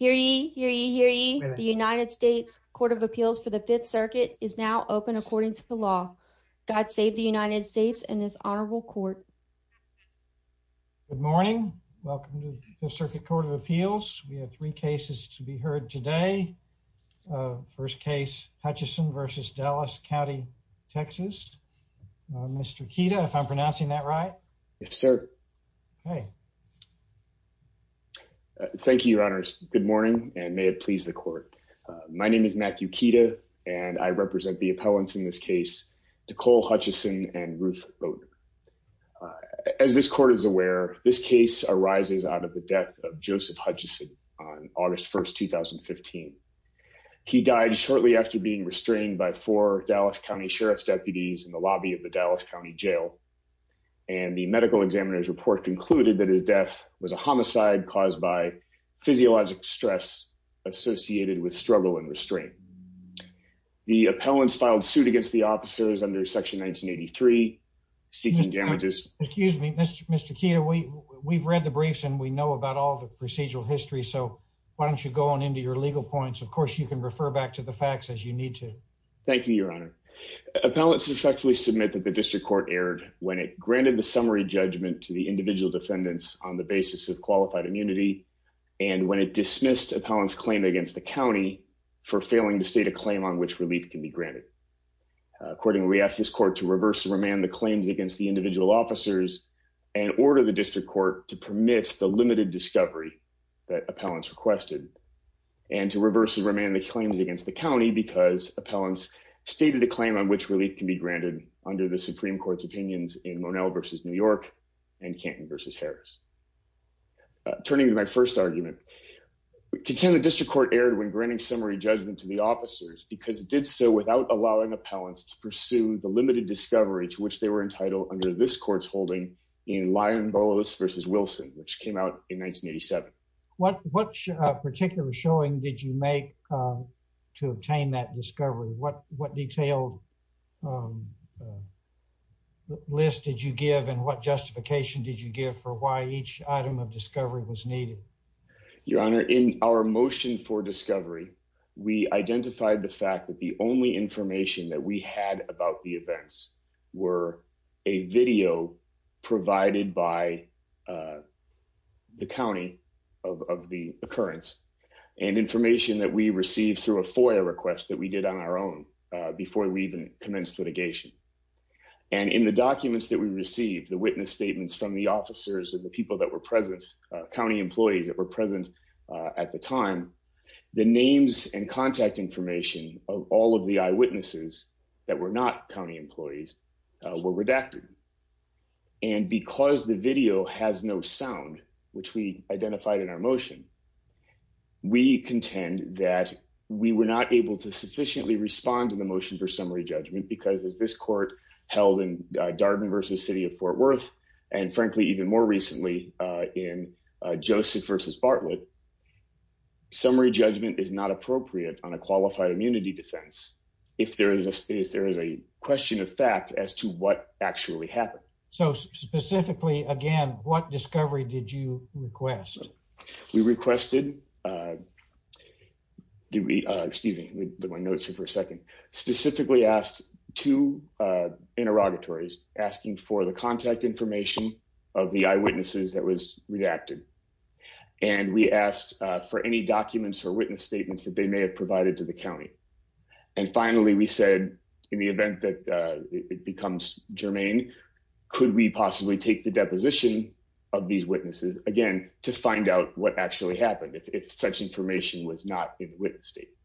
e. The United States Court of Appeals for the Fifth Circuit is now open according to the law. God save the United States and this honorable court. Good morning. Welcome to the Fifth Circuit Court of Appeals. We have three cases to be heard today. First case, Hutcheson v. Dallas County, Texas. Mr. Kida, if I'm pronouncing that right? Yes, sir. Okay. Thank you, your honors. Good morning and may it please the court. My name is Matthew Kida and I represent the appellants in this case, Nicole Hutcheson and Ruth Logan. As this court is aware, this case arises out of the death of Joseph Hutcheson on August 1st, 2015. He died shortly after being restrained by four Dallas County Sheriff's deputies in the lobby of the Dallas County Jail and the medical examiner's report concluded that his death was a homicide caused by physiologic stress associated with struggle and restraint. The appellants filed suit against the officers under section 1983 seeking damages. Excuse me, Mr. Kida, we've read the briefs and we know about all the procedural history, so why don't you go on into your legal points. Of course, you can refer back to the facts as you Thank you, your honor. Appellants respectfully submit that the district court erred when it granted the summary judgment to the individual defendants on the basis of qualified immunity and when it dismissed appellants claim against the county for failing to state a claim on which relief can be granted. Accordingly, we ask this court to reverse and remand the claims against the individual officers and order the district court to permit the limited discovery that appellants stated a claim on which relief can be granted under the Supreme Court's opinions in Monell v. New York and Canton v. Harris. Turning to my first argument, contend the district court erred when granting summary judgment to the officers because it did so without allowing appellants to pursue the limited discovery to which they were entitled under this court's holding in Lyon-Bolos v. Wilson, which came out in 1987. What particular showing did you make to obtain that discovery? What detailed list did you give and what justification did you give for why each item of discovery was needed? Your honor, in our motion for discovery, we identified the fact that the only information that we had about the events were a video provided by the county of the occurrence and information that we received through a FOIA request that we did on our own before we even commenced litigation. In the documents that we received, the witness statements from the officers and the people that were present, county employees that were present at the time, the names and contact information of all of the eyewitnesses that were not county employees were redacted. And because the video has no sound, which we identified in our motion, we contend that we were not able to sufficiently respond to the motion for summary judgment because as this court held in Darden v. City of Fort Worth, and frankly, even more recently, in Joseph v. Bartlett, summary judgment is not appropriate on a qualified immunity defense if there is a question of fact as to what actually happened. So specifically, again, what discovery did you request? We requested, excuse me, let me notice here for a second, specifically asked two interrogatories asking for the contact information of the eyewitnesses that was redacted. And we asked for any documents or witness statements that they may have provided to the county. And finally, we said, in the event that it becomes germane, could we possibly take the deposition of these witnesses, again, to find out what actually happened if such information was not in the witness statement?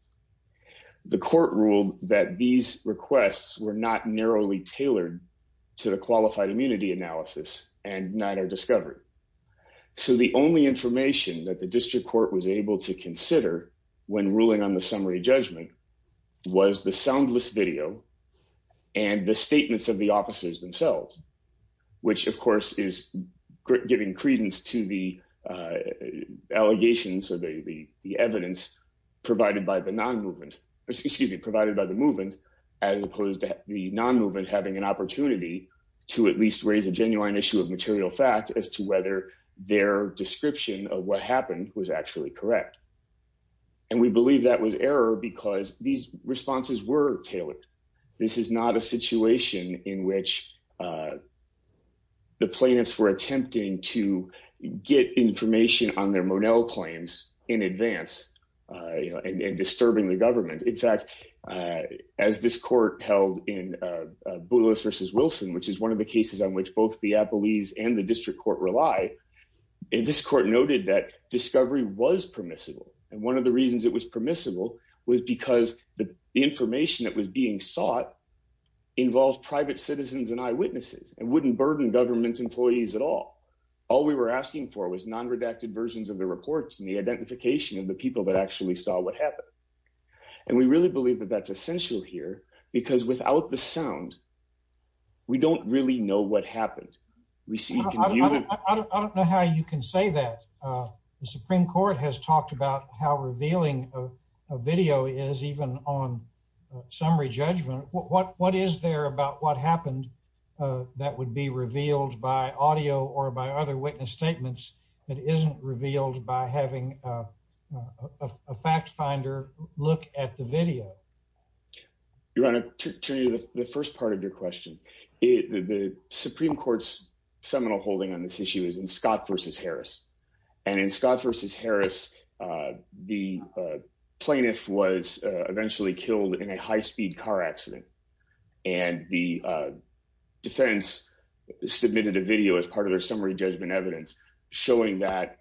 The court ruled that these requests were not narrowly tailored to the qualified immunity analysis and neither discovered. So the only information that the district court was able to consider when ruling on the summary judgment was the soundless video and the statements of the officers themselves, which of course is giving credence to the allegations or the evidence provided by the non-movement, excuse me, provided by the movement, as opposed to the non-movement having an opportunity to at least raise a genuine issue of material fact as to whether their description of what happened was actually correct. And we believe that was error because these responses were tailored. This is not a in advance and disturbing the government. In fact, as this court held in Boulos versus Wilson, which is one of the cases on which both the appellees and the district court rely, this court noted that discovery was permissible. And one of the reasons it was permissible was because the information that was being sought involved private citizens and eyewitnesses and wouldn't burden government employees at all. All we were asking for was non-redacted versions of reports and the identification of the people that actually saw what happened. And we really believe that that's essential here because without the sound, we don't really know what happened. I don't know how you can say that. The Supreme Court has talked about how revealing a video is even on summary judgment. What is there about what happened that would be revealed by audio or by other witness statements that isn't revealed by having a fact finder look at the video? You want to turn to the first part of your question. The Supreme Court's seminal holding on this issue is in Scott versus Harris. And in Scott versus Harris, the plaintiff was eventually killed in a high speed car accident. And the defense submitted a video as part of their summary judgment evidence showing that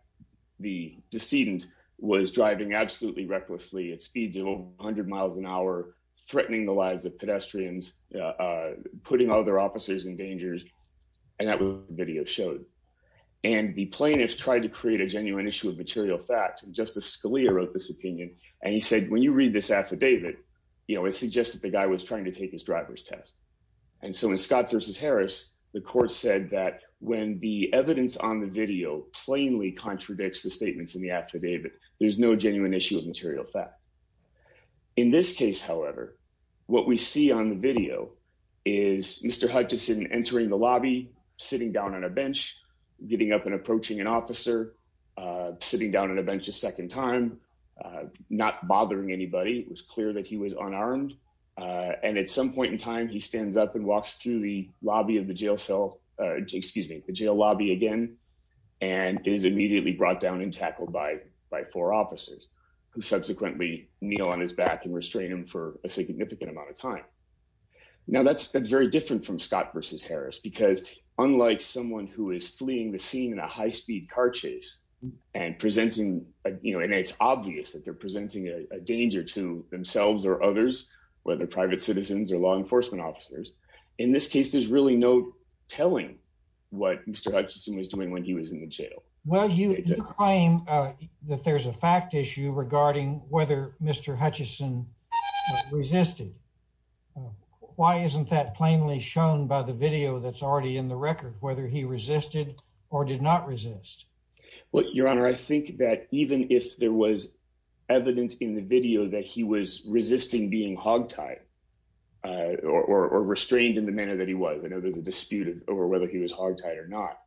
the decedent was driving absolutely recklessly at speeds of 100 miles an hour, threatening the lives of pedestrians, putting all their officers in dangers. And that video showed. And the plaintiff tried to create a genuine issue of material fact. Justice Scalia wrote this opinion. And he said, when you read this affidavit, it suggests that the guy was trying to take his driver's test. And so in Scott versus Harris, the court said that when the evidence on the video plainly contradicts the statements in the affidavit, there's no genuine issue of material fact. In this case, however, what we see on the video is Mr. Hutchison entering the lobby, sitting down on a bench, getting up and approaching an unarmed man. And at some point in time, he stands up and walks through the lobby of the jail cell, excuse me, the jail lobby again, and is immediately brought down and tackled by by four officers who subsequently kneel on his back and restrain him for a significant amount of time. Now, that's that's very different from Scott versus Harris, because unlike someone who is fleeing the scene in a high speed car chase and presenting, you know, and it's obvious that they're presenting a danger to themselves or others, whether private citizens or law enforcement officers. In this case, there's really no telling what Mr. Hutchison was doing when he was in the jail. Well, you claim that there's a fact issue regarding whether Mr. Hutchison resisted. Why isn't that plainly shown by the video that's already in the record, whether he resisted or did not resist? Well, Your Honor, I think that even if there was evidence in the video that he was resisting being hogtied or restrained in the manner that he was, you know, there's a dispute over whether he was hogtied or not.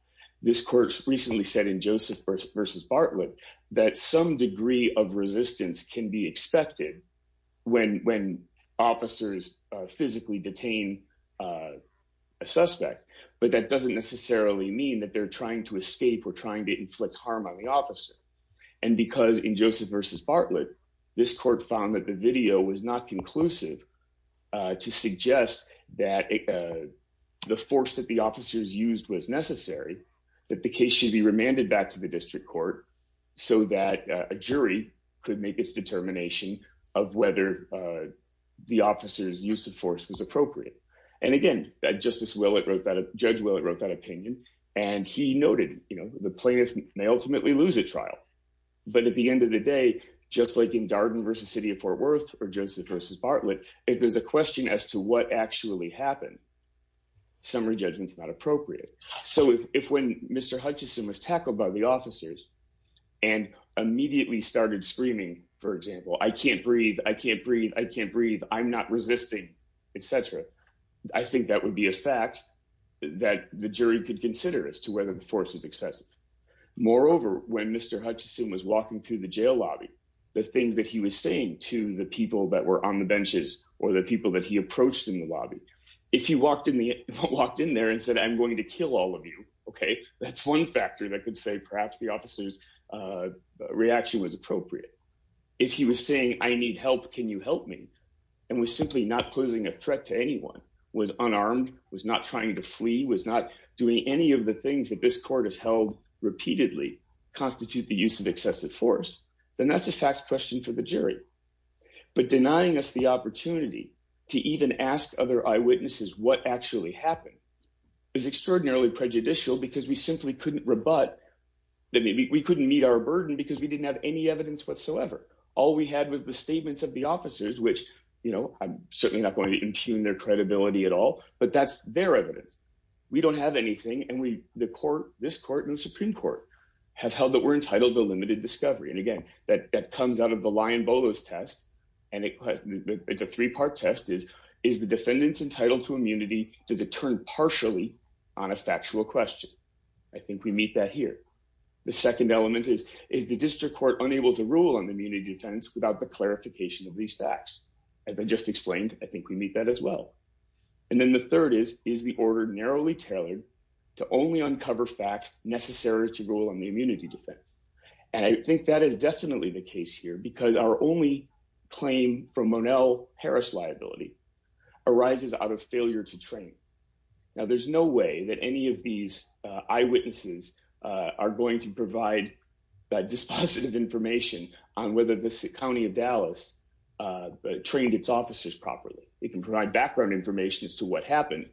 This court recently said in Joseph versus Bartlett that some degree of resistance can be expected when when officers physically detain a suspect. But that doesn't necessarily mean that they're trying to escape or trying to inflict harm on the officer. And because in Joseph versus Bartlett, this court found that the video was not conclusive to suggest that the force that the officers used was necessary, that the case should be remanded back to the district court so that a jury could make its determination of whether the officer's force was appropriate. And again, that Justice Willett wrote that, Judge Willett wrote that opinion. And he noted, you know, the plaintiff may ultimately lose a trial. But at the end of the day, just like in Darden versus City of Fort Worth or Joseph versus Bartlett, if there's a question as to what actually happened, summary judgment is not appropriate. So if when Mr. Hutchison was tackled by the officers and immediately started screaming, for example, I can't breathe, I can't etc. I think that would be a fact that the jury could consider as to whether the force was excessive. Moreover, when Mr. Hutchison was walking through the jail lobby, the things that he was saying to the people that were on the benches or the people that he approached in the lobby, if he walked in there and said, I'm going to kill all of you, okay, that's one factor that could say perhaps the officer's reaction was appropriate. If he was saying, I need help, can you help me, and was simply not posing a threat to anyone, was unarmed, was not trying to flee, was not doing any of the things that this court has held repeatedly constitute the use of excessive force, then that's a fact question for the jury. But denying us the opportunity to even ask other eyewitnesses what actually happened is extraordinarily prejudicial, because we simply couldn't rebut that we couldn't meet our burden because we didn't have any evidence whatsoever. All we had was the statements of the officers, which, you know, I'm certainly not going to impugn their credibility at all, but that's their evidence. We don't have anything. And we, the court, this court and the Supreme Court have held that we're entitled to limited discovery. And again, that comes out of the lion bolos test. And it's a three part test is, is the defendants entitled to immunity? Does it turn partially on a factual question? I think we meet that here. The second element is, is the district court unable to rule on the immunity defense without the clarification of these facts? As I just explained, I think we meet that as well. And then the third is, is the order narrowly tailored to only uncover facts necessary to rule on the immunity defense. And I think that is definitely the case here, because our only claim from Monell Harris liability arises out of failure to train. Now, there's no way that any of these eyewitnesses are going to provide that dispositive information on whether the county of Dallas trained its officers properly. It can provide background information as to what happened.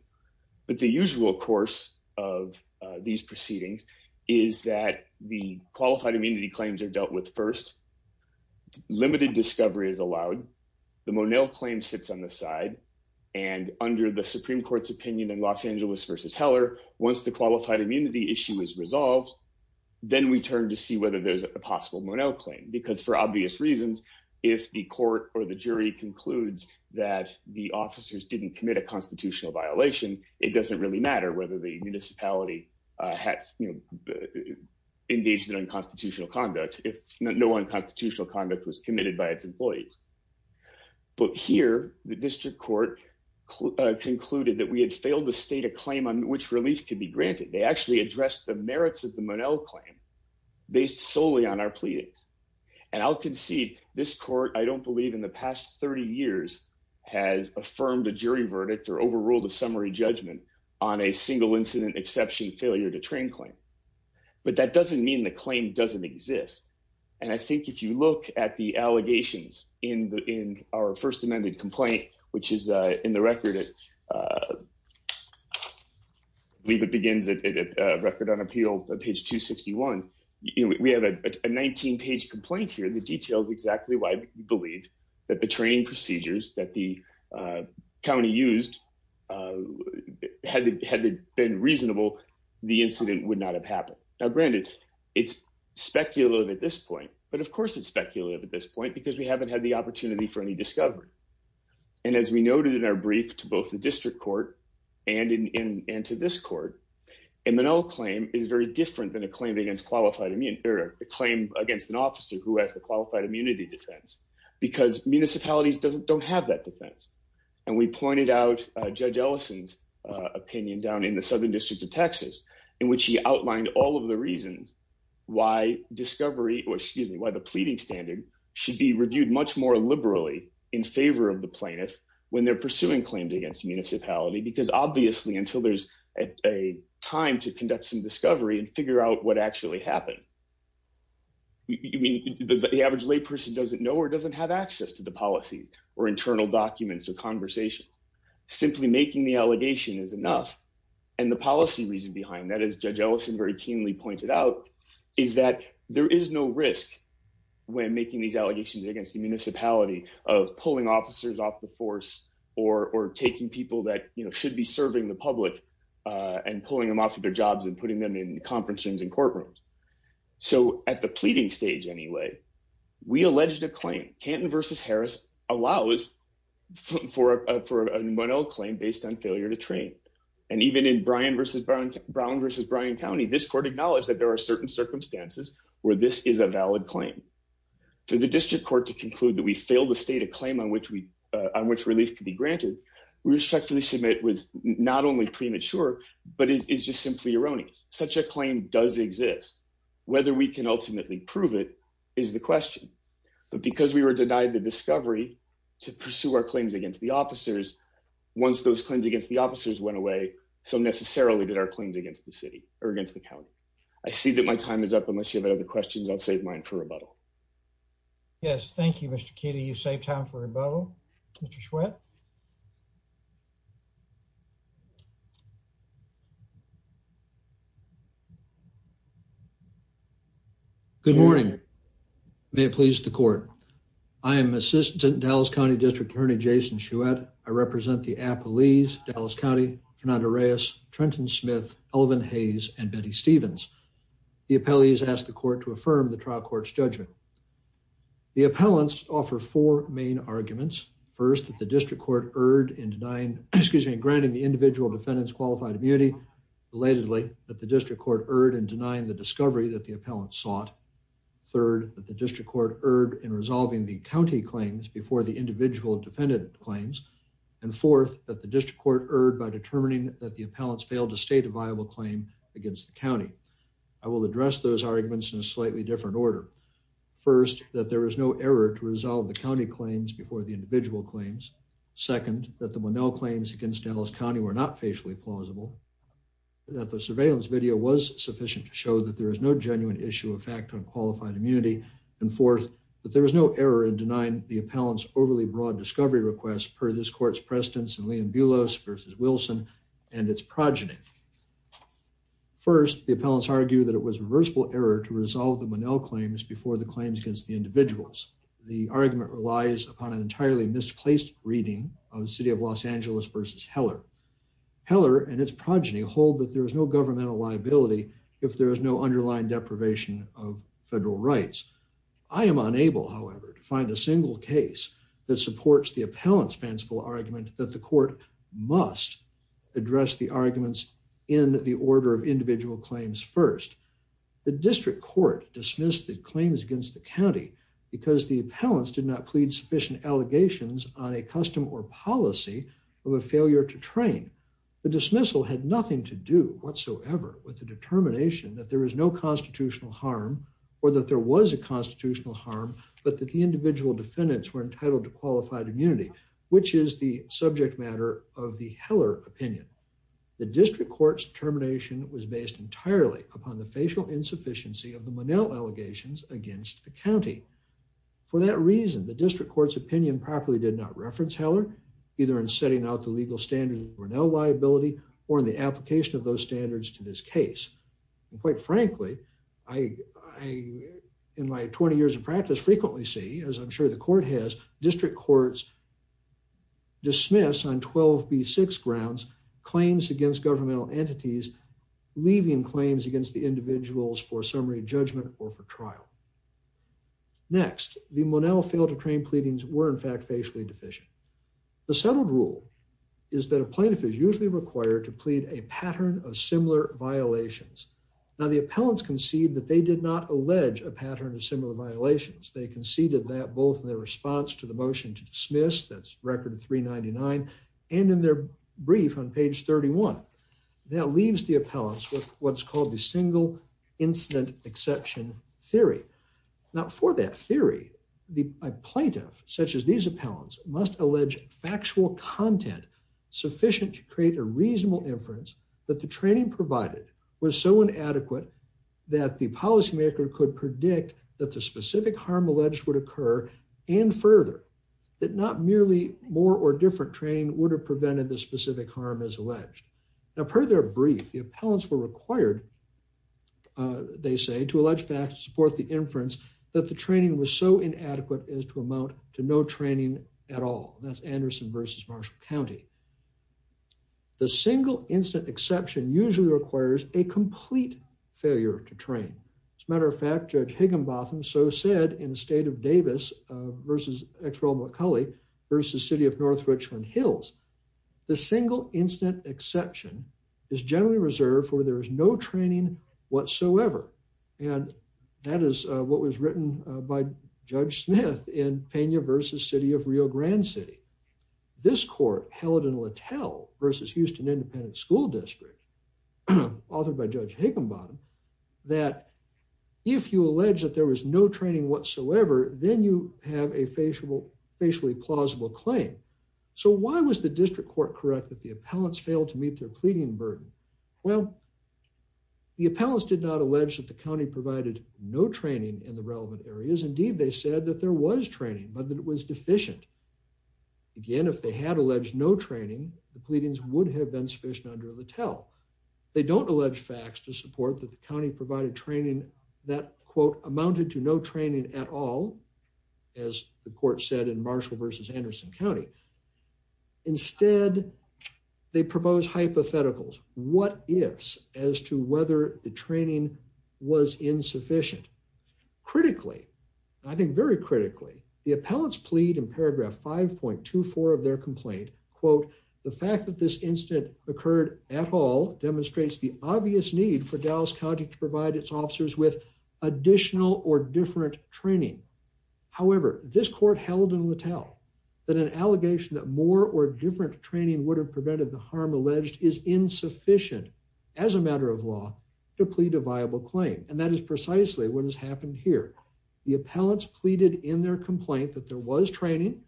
But the usual course of these proceedings is that the qualified immunity claims are dealt with first. Limited discovery is allowed. The Monell claim sits on the side. And under the Supreme Court, if that immunity issue is resolved, then we turn to see whether there's a possible Monell claim. Because for obvious reasons, if the court or the jury concludes that the officers didn't commit a constitutional violation, it doesn't really matter whether the municipality engaged in unconstitutional conduct, if no unconstitutional conduct was committed by its employees. But here, the district court concluded that we had failed to state a claim on which relief could be granted. They actually addressed the merits of the Monell claim based solely on our pleadings. And I'll concede this court, I don't believe in the past 30 years, has affirmed a jury verdict or overruled a summary judgment on a single incident exception failure to train claim. But that doesn't mean the claim doesn't exist. And I think if you look at the allegations in our first amended complaint, which is in the record, I believe it begins at Record on Appeal, page 261. We have a 19 page complaint here, the details exactly why we believe that the training procedures that the county used had been reasonable, the incident would not have happened. Now granted, it's speculative at this point, because we haven't had the opportunity for any discovery. And as we noted in our brief to both the district court and to this court, a Monell claim is very different than a claim against an officer who has a qualified immunity defense, because municipalities don't have that defense. And we pointed out Judge Ellison's opinion down in the Southern District of Texas, in which he outlined all of the reasons why the pleading standard should be reviewed much more liberally in favor of the plaintiff when they're pursuing claims against municipality, because obviously until there's a time to conduct some discovery and figure out what actually happened, the average lay person doesn't know or doesn't have access to the policy or internal documents or conversations. Simply making the allegation is enough. And the policy reason behind that, as Judge Ellison very keenly pointed out, is that there is no risk when making these allegations against the municipality of pulling officers off the force or taking people that should be serving the public and pulling them off of their jobs and putting them in conference rooms and courtrooms. So at the pleading stage, anyway, we alleged a claim, Canton versus Harris allows for a Monell claim based on failure to even in Brown versus Brown County, this court acknowledged that there are certain circumstances where this is a valid claim. For the district court to conclude that we failed to state a claim on which relief could be granted, we respectfully submit was not only premature, but it's just simply erroneous. Such a claim does exist. Whether we can ultimately prove it is the question. But because we were denied the discovery to pursue our claims against the officers, once those claims against the officers went away, so necessarily did our claims against the city or against the county. I see that my time is up. Unless you have other questions, I'll save mine for rebuttal. Yes. Thank you, Mr. Kitty. You save time for rebuttal. Mr. Sweat. Good morning. May it please the court. I am assistant Dallas County District Attorney Jason Shouette. I represent the Apple leaves Dallas County Fernando Reyes, Trenton Smith, Elvin Hayes and Betty Stevens. The appellees asked the court to affirm the trial court's judgment. The appellants offer four main arguments. First, that the district court erred in denying excuse me, granting the individual defendants qualified immunity. Relatedly, that the district court erred in denying the discovery that the appellant sought. Third, that the district court erred in county claims before the individual defendant claims. And fourth, that the district court erred by determining that the appellants failed to state a viable claim against the county. I will address those arguments in a slightly different order. First, that there is no error to resolve the county claims before the individual claims. Second, that the Monell claims against Dallas County were not facially plausible. That the surveillance video was sufficient to show that there is no genuine issue of fact on qualified immunity. And fourth, that there was no error in denying the appellants overly broad discovery requests per this court's precedence and Liam Bulos versus Wilson and its progeny. First, the appellants argue that it was reversible error to resolve the Monell claims before the claims against the individuals. The argument relies upon an entirely misplaced reading of the city of Los Angeles versus Heller. Heller and its deprivation of federal rights. I am unable, however, to find a single case that supports the appellants fanciful argument that the court must address the arguments in the order of individual claims. First, the district court dismissed the claims against the county because the appellants did not plead sufficient allegations on a custom or policy of a failure to train. The dismissal had nothing to do whatsoever with the determination that there is no constitutional harm or that there was a constitutional harm, but that the individual defendants were entitled to qualified immunity, which is the subject matter of the Heller opinion. The district court's termination was based entirely upon the facial insufficiency of the Monell allegations against the county. For that reason, the district court's opinion properly did not reference Heller, either in setting out the legal standards or no liability or in the application of those standards to this case. And quite frankly, I in my 20 years of practice frequently see, as I'm sure the court has, district courts dismiss on 12 B six grounds claims against governmental entities, leaving claims against the individuals for summary judgment or for trial. Next, the Monell failed to train pleadings were in fact, facially deficient. The settled rule is that a plaintiff is usually required to plead a pattern of similar violations. Now, the appellants concede that they did not allege a pattern of similar violations. They conceded that both in their response to the motion to dismiss that's record three 99 and in their brief on page 31 that leaves the appellants with what's called the single incident exception theory. Not for that theory, the plaintiff, such as these appellants must allege factual content sufficient to create a reasonable inference that the training provided was so inadequate that the policymaker could predict that the specific harm alleged would occur and further that not merely more or different training would have prevented the specific harm is alleged. Now, per their brief, the appellants were required. They say to allege back to support the inference that the training was so inadequate as to amount to no training at all. That's Anderson versus Marshall County. The single incident exception usually requires a complete failure to train. As a matter of fact, Judge Higginbotham so said in the state of Davis versus extra McCully versus city of North Hills. The single incident exception is generally reserved for there is no training whatsoever. And that is what was written by Judge Smith in Pena versus city of Rio Grande City. This court held in Littell versus Houston Independent School District, authored by Judge Higginbotham, that if you allege that there was no training whatsoever, then you have a facially plausible claim. So why was the district court correct that the appellants failed to meet their pleading burden? Well, the appellants did not allege that the county provided no training in the relevant areas. Indeed, they said that there was training, but that it was deficient. Again, if they had alleged no training, the pleadings would have been sufficient under Littell. They don't allege facts to support that the county provided training that quote amounted to no training at all, as the court said in Marshall versus Anderson County. Instead, they propose hypotheticals. What ifs as to whether the training was insufficient? Critically, I think very critically, the appellants plead in paragraph 5.24 of their complaint, quote, The fact that this incident occurred at all demonstrates the obvious need for Dallas County to provide its officers with additional or different training. However, this court held in Littell that an allegation that more or different training would have prevented the harm alleged is insufficient as a matter of law to plead a viable claim. And that is precisely what has happened here. The appellants pleaded in their complaint that there was training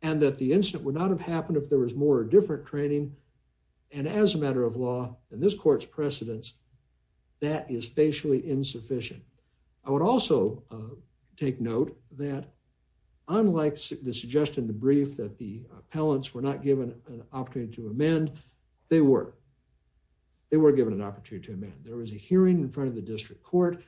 and that the incident would not have happened if there was more different training. And as a matter of law in this court's precedence, that is facially insufficient. I would also take note that unlike the suggestion, the brief that the appellants were not given an opportunity to amend, they were they were given an opportunity to amend. There was a hearing in front of the district court.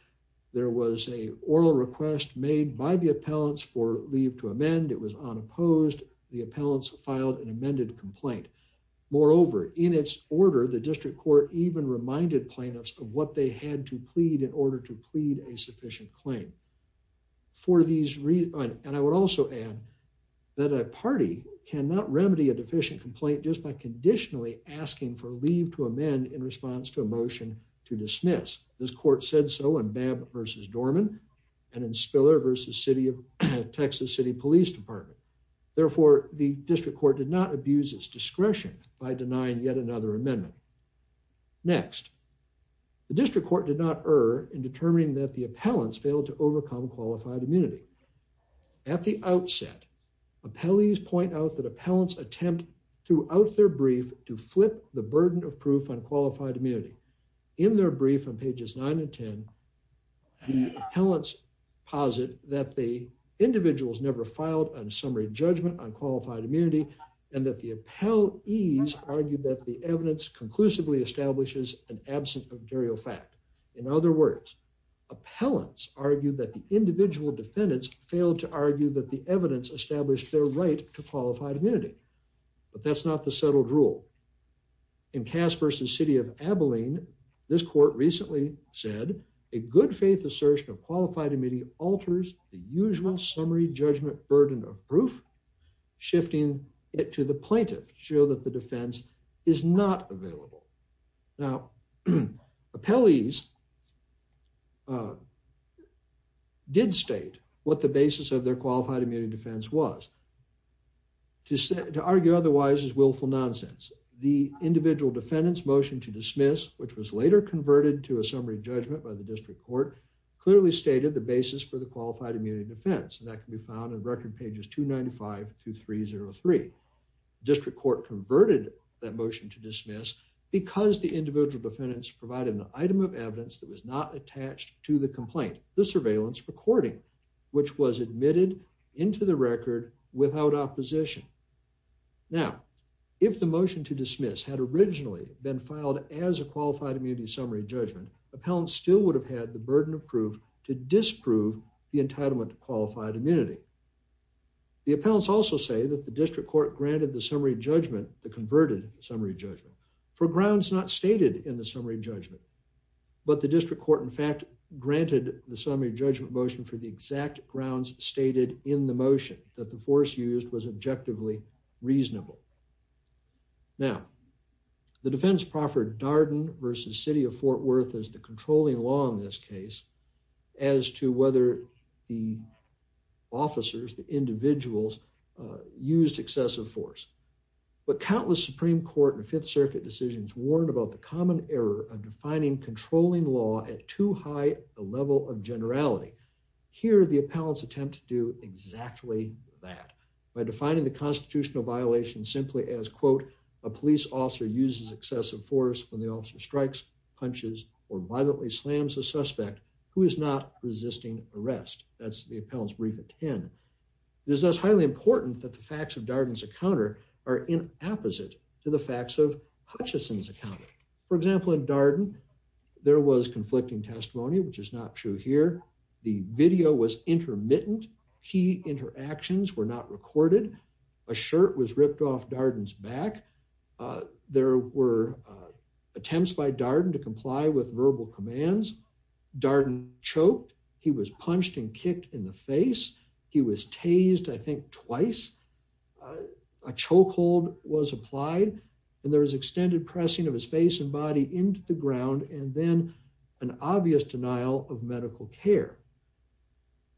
There was a oral request made by the appellants for leave to amend. It was unopposed. The appellants filed an amended complaint. Moreover, in its order, the district court even reminded plaintiffs of what they had to plead in order to plead a sufficient claim for these reasons. And I would also add that a party cannot remedy a deficient complaint just by conditionally asking for leave to amend in response to a motion to dismiss. This court said so in Babb versus Dorman and in Spiller versus City of Texas City Police Department. Therefore, the district court did not abuse its discretion by denying yet another amendment. Next, the district court did not err in determining that the appellants failed to overcome qualified immunity. At the outset, appellees point out that appellants attempt throughout their brief to flip the burden of proof on qualified immunity. In their brief on pages nine and 10, the appellants posit that the individuals never filed on summary judgment on qualified immunity and that the appellees argued that the evidence conclusively establishes an absent material fact. In other words, appellants argued that the individual defendants failed to argue that the evidence established their right to qualified immunity. But that's not the settled rule. In Cass versus City of Abilene, this court recently said a good faith assertion of qualified immunity alters the usual summary judgment burden of proof, shifting it to the plaintiff to show that the defense is not available. Now, appellees did state what the basis of their qualified immunity defense was. To argue otherwise is willful nonsense. The individual defendants motion to dismiss, which was later converted to a summary judgment by the district court, clearly stated the basis for the qualified immunity defense. And that can be found in record pages 295 to 303. District court converted that motion to dismiss because the individual defendants provided an item of evidence that was not attached to the complaint, the surveillance recording, which was admitted into the record without opposition. Now, if the motion to dismiss had originally been filed as a qualified immunity summary judgment, appellants still would have had the burden of proof to disprove the entitlement to qualified immunity. The appellants also say that the district court granted the summary judgment the converted summary judgment for grounds not stated in the summary judgment. But the district court, in fact, granted the summary judgment motion for the exact grounds stated in the motion that the force used was objectively reasonable. Now, the defense proffered Darden versus City of Fort Worth as the controlling law in this case as to whether the officers, the individuals used excessive force. But countless Supreme Court and Fifth Circuit decisions warned about the common error of finding controlling law at too high a level of generality. Here, the appellants attempt to do exactly that by defining the constitutional violation simply as, quote, a police officer uses excessive force when the officer strikes, punches or violently slams a suspect who is not resisting arrest. That's the appellant's brief at 10. It is thus highly important that the facts of Hutchinson's account, for example, in Darden, there was conflicting testimony, which is not true here. The video was intermittent. Key interactions were not recorded. A shirt was ripped off Darden's back. There were attempts by Darden to comply with verbal commands. Darden choked. He was punched and kicked in the face. He was tased, I think, twice. A chokehold was applied and there was extended pressing of his face and body into the ground and then an obvious denial of medical care.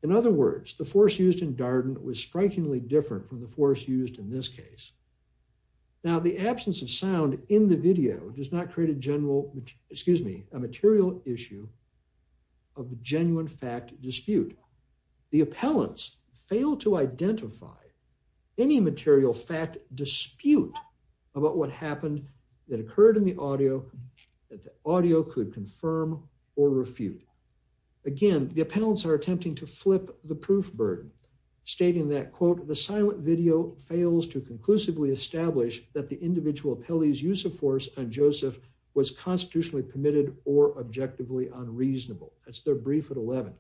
In other words, the force used in Darden was strikingly different from the force used in this case. Now, the absence of sound in the video does not create a general, excuse me, a material issue of a genuine fact dispute. The appellants fail to any material fact dispute about what happened that occurred in the audio that the audio could confirm or refute. Again, the appellants are attempting to flip the proof burden, stating that quote, the silent video fails to conclusively establish that the individual appellee's use of force on Joseph was constitutionally permitted or objectively unreasonable. That's their brief at 11.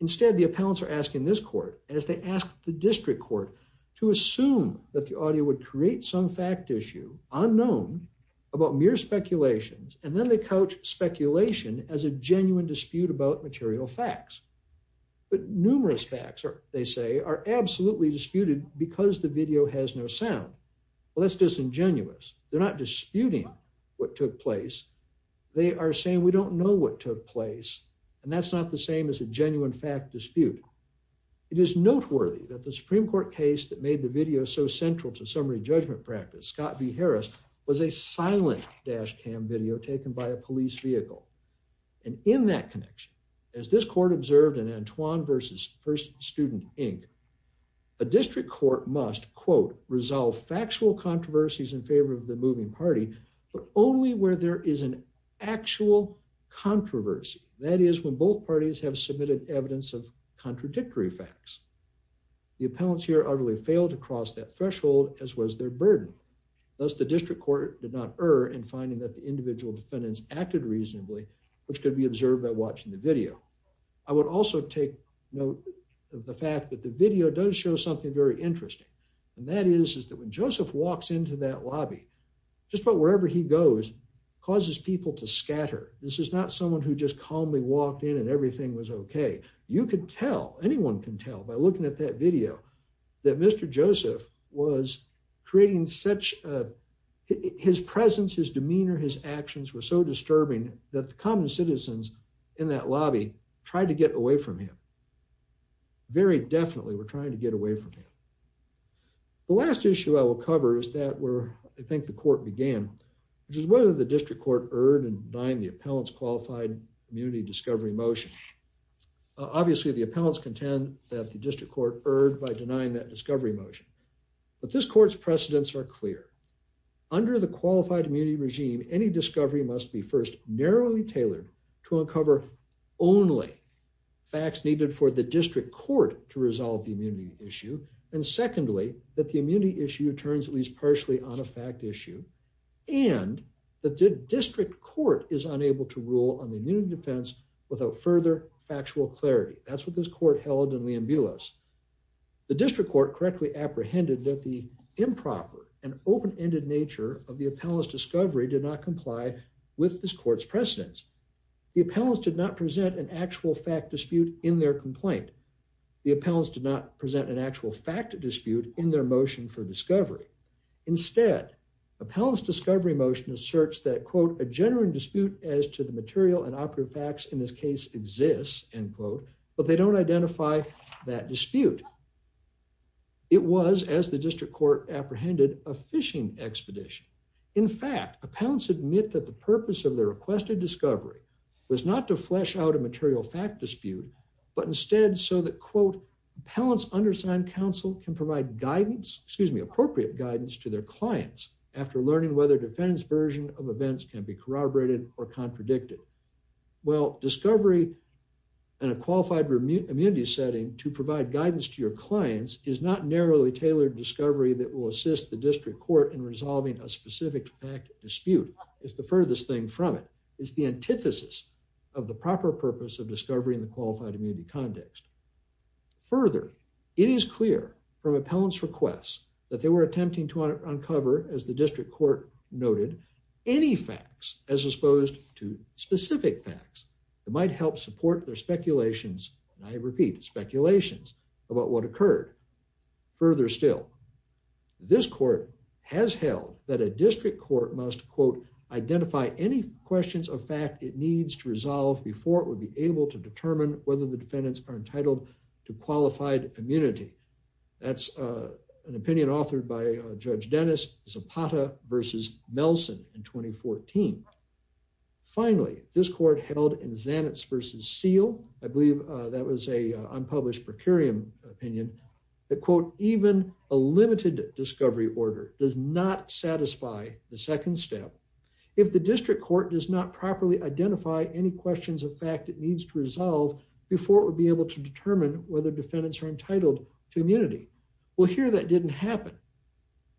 Instead, the appellants are asking this court as they asked the district court to assume that the audio would create some fact issue unknown about mere speculations and then they couch speculation as a genuine dispute about material facts. But numerous facts, they say, are absolutely disputed because the video has no sound. Well, that's disingenuous. They're not disputing what took place, and that's not the same as a genuine fact dispute. It is noteworthy that the Supreme Court case that made the video so central to summary judgment practice, Scott B. Harris was a silent dash cam video taken by a police vehicle. And in that connection, as this court observed in Antoine versus First Student Inc, a district court must quote resolve factual controversies in favor of That is when both parties have submitted evidence of contradictory facts. The appellants here utterly failed to cross that threshold, as was their burden. Thus, the district court did not err in finding that the individual defendants acted reasonably, which could be observed by watching the video. I would also take note of the fact that the video does show something very interesting, and that is that when Joseph walks into that lobby, just about wherever he goes, causes people to scatter. This is not someone who just calmly walked in and everything was okay. You could tell, anyone can tell by looking at that video, that Mr. Joseph was creating such, his presence, his demeanor, his actions were so disturbing that the common citizens in that lobby tried to get away from him. Very definitely were trying get away from him. The last issue I will cover is that where I think the court began, which is whether the district court erred in denying the appellants qualified immunity discovery motion. Obviously, the appellants contend that the district court erred by denying that discovery motion, but this court's precedents are clear. Under the qualified immunity regime, any discovery must be first narrowly tailored to uncover only facts needed for the district court to resolve the immunity issue. And secondly, that the immunity issue turns at least partially on a fact issue, and that the district court is unable to rule on the immunity defense without further factual clarity. That's what this court held in Lianbilos. The district court correctly apprehended that the improper and open-ended nature of the appellants discovery did not comply with this court's precedents. The appellants did not present an actual fact dispute in their complaint. The appellants did not present an actual fact dispute in their motion for discovery. Instead, appellants discovery motion asserts that, quote, a genuine dispute as to the material and operative facts in this case exists, end quote, but they don't identify that dispute. It was, as the district court apprehended, a fishing expedition. In fact, appellants admit that the purpose of appellants undersigned counsel can provide guidance, excuse me, appropriate guidance to their clients after learning whether defense version of events can be corroborated or contradicted. Well, discovery in a qualified immunity setting to provide guidance to your clients is not narrowly tailored discovery that will assist the district court in resolving a specific fact dispute. It's the furthest thing from it. It's the antithesis of the proper purpose of discovery in the qualified immunity context. Further, it is clear from appellants requests that they were attempting to uncover, as the district court noted, any facts as opposed to specific facts that might help support their speculations, and I repeat, speculations about what occurred. Further still, this court has held that a district court must, quote, identify any questions of fact it needs to resolve before it would be able to determine whether the defendants are entitled to qualified immunity. That's an opinion authored by Judge Dennis Zapata versus Melson in 2014. Finally, this court held in Zanets versus Seale, I believe that was a unpublished procurium opinion, that, quote, even a limited discovery order does not satisfy the second step if the district court does not properly identify any questions of fact it needs to resolve before it would be able to determine whether defendants are entitled to immunity. Well, here that didn't happen.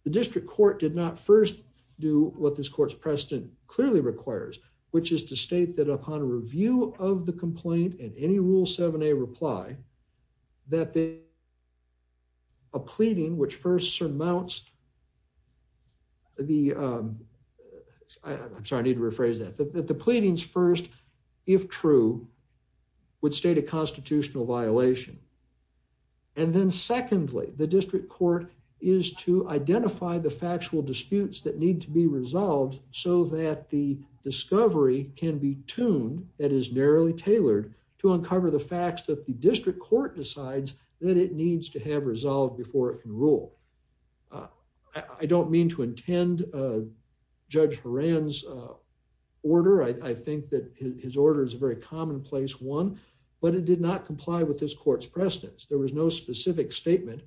The district court did not first do what this court's precedent clearly requires, which is to state that upon review of the complaint and any Rule seven a reply that the a pleading which first surmounts the I'm sorry I need to rephrase that the pleadings first, if true, would state a constitutional violation. And then, secondly, the district court is to identify the factual disputes that need to be resolved so that the discovery can be tuned that is narrowly tailored to uncover the facts that the district court decides that it needs to have resolved before it can rule. I don't mean to intend Judge Horan's order. I think that his order is a very commonplace one, but it did not comply with this court's precedents. There was no specific statement,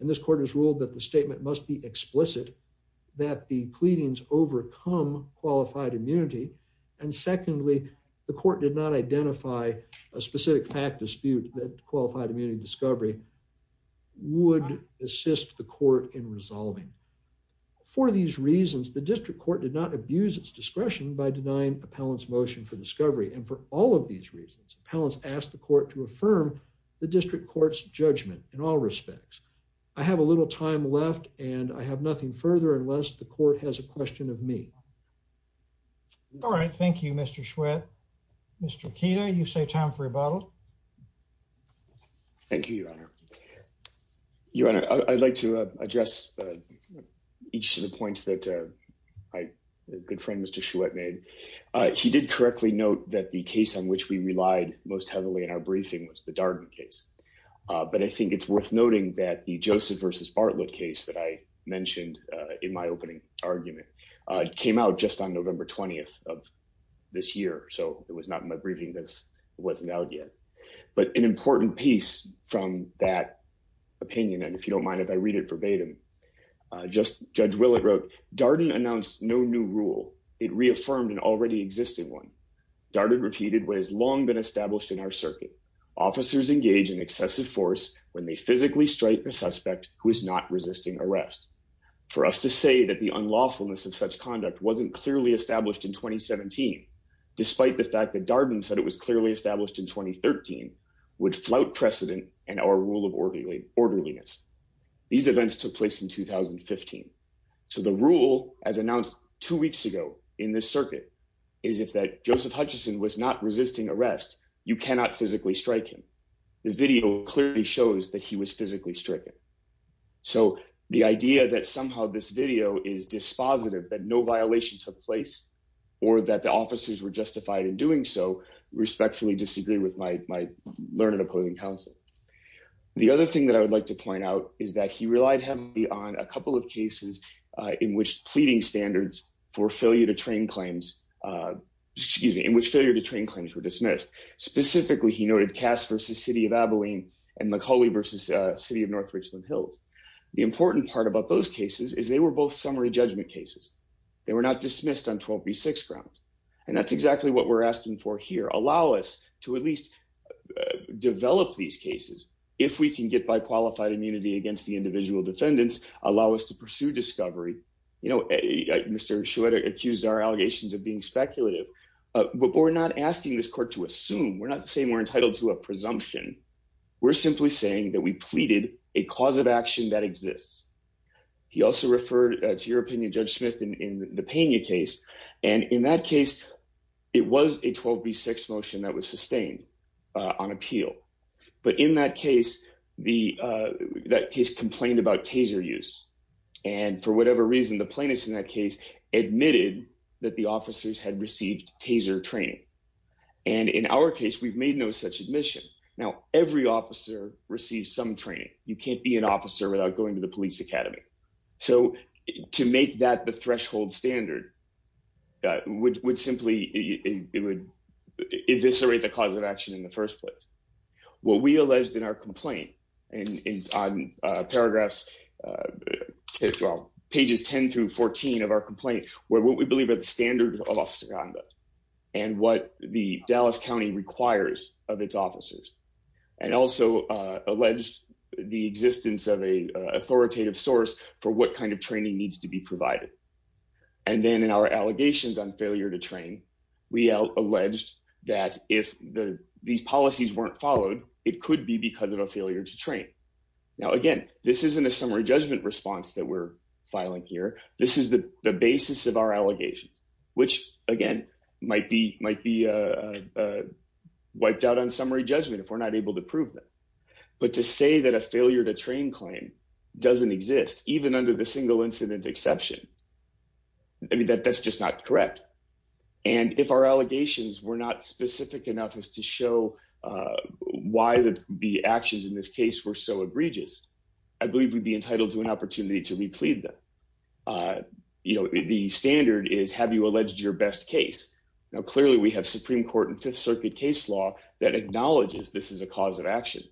and this court has ruled that the statement must be explicit that the pleadings overcome qualified immunity. And secondly, the court did not identify a specific fact dispute that qualified immunity discovery would assist the court in resolving. For these reasons, the district court did not abuse its discretion by denying appellants motion for discovery. And for all of these reasons, appellants asked the court to affirm the district court's judgment. In all respects, I have a little time left, and I have nothing further unless the court has a motion. All right. Thank you, Mr. Schwedt. Mr. Akita, you say time for rebuttal. Thank you, Your Honor. Your Honor, I'd like to address each of the points that my good friend, Mr. Schwedt, made. He did correctly note that the case on which we relied most heavily in our briefing was the Darden case. But I think it's worth noting that the Darden case was brought up just on November 20th of this year, so it was not in my briefing. It wasn't out yet. But an important piece from that opinion, and if you don't mind if I read it verbatim, Judge Willett wrote, Darden announced no new rule. It reaffirmed an already existing one. Darden repeated what has long been established in our circuit. Officers engage in excessive force when they physically strike a suspect who is not resisting arrest. For us to say that the rule wasn't clearly established in 2017, despite the fact that Darden said it was clearly established in 2013, would flout precedent and our rule of orderliness. These events took place in 2015. So the rule, as announced two weeks ago in this circuit, is if that Joseph Hutchinson was not resisting arrest, you cannot physically strike him. The video clearly shows that he was physically stricken. So the idea that somehow this video is dispositive, that no violation took place, or that the officers were justified in doing so, respectfully disagree with my learned opposing counsel. The other thing that I would like to point out is that he relied heavily on a couple of cases in which pleading standards for failure to train claims, excuse me, in which failure to train claims were dismissed. Specifically, he noted Cass versus City of Abilene and McCauley versus City of North Richland Hills. The important part about those cases is they were both summary judgment cases. They were not dismissed on 12b6 grounds. And that's exactly what we're asking for here. Allow us to at least develop these cases. If we can get by qualified immunity against the individual defendants, allow us to pursue discovery. You know, Mr. Shweta accused our allegations of being speculative, but we're not asking this court to assume. We're not saying we're entitled to a presumption. We're simply saying that we pleaded a cause of action that exists. He also referred to your opinion, Judge Smith, in the Pena case. And in that case, it was a 12b6 motion that was sustained on appeal. But in that case, that case complained about taser use. And for whatever reason, the plaintiffs in that case admitted that the officers had received taser training. And in our case, we've made no such admission. Now, every officer receives some training. You can't be an officer without going to the police academy. So to make that the threshold standard would simply, it would eviscerate the cause of action in the first place. What we alleged in our complaint and on paragraphs, well, pages 10 through 14 of our complaint, were what we believe are the standards of Osaganda and what the Dallas County requires of its officers. And also alleged the existence of a authoritative source for what kind of training needs to be provided. And then in our allegations on failure to train, we alleged that if these policies weren't followed, it could be because of a failure to train. Now, again, this isn't a basis of our allegations, which again, might be wiped out on summary judgment if we're not able to prove them. But to say that a failure to train claim doesn't exist, even under the single incident exception, I mean, that's just not correct. And if our allegations were not specific enough as to show why the actions in this case were so egregious, I believe we'd be entitled to an opportunity to replead them. The standard is, have you alleged your best case? Now, clearly we have Supreme Court and Fifth Circuit case law that acknowledges this is a cause of action.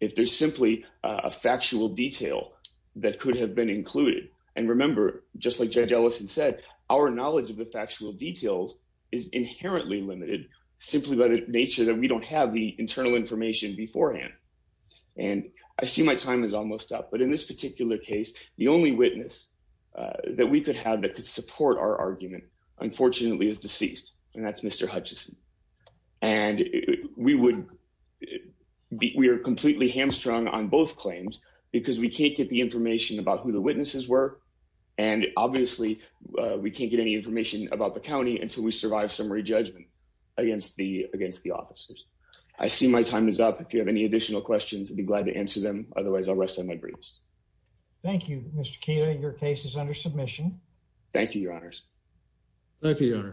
If there's simply a factual detail that could have been included. And remember, just like Judge Ellison said, our knowledge of the factual details is inherently limited, simply by the nature that we don't have the internal information beforehand. And I see my time is almost up, but in this particular case, the only witness that we could have that could support our argument, unfortunately, is deceased. And that's Mr. Hutchinson. And we are completely hamstrung on both claims, because we can't get the information about who the witnesses were. And obviously, we can't get any information about the county until we survive summary judgment against the officers. I see my time is up. If you have any additional questions, be glad to answer them. Otherwise, I'll rest on my grace. Thank you, Mr. Keita. Your case is under submission. Thank you, Your Honors. Thank you, Your Honors.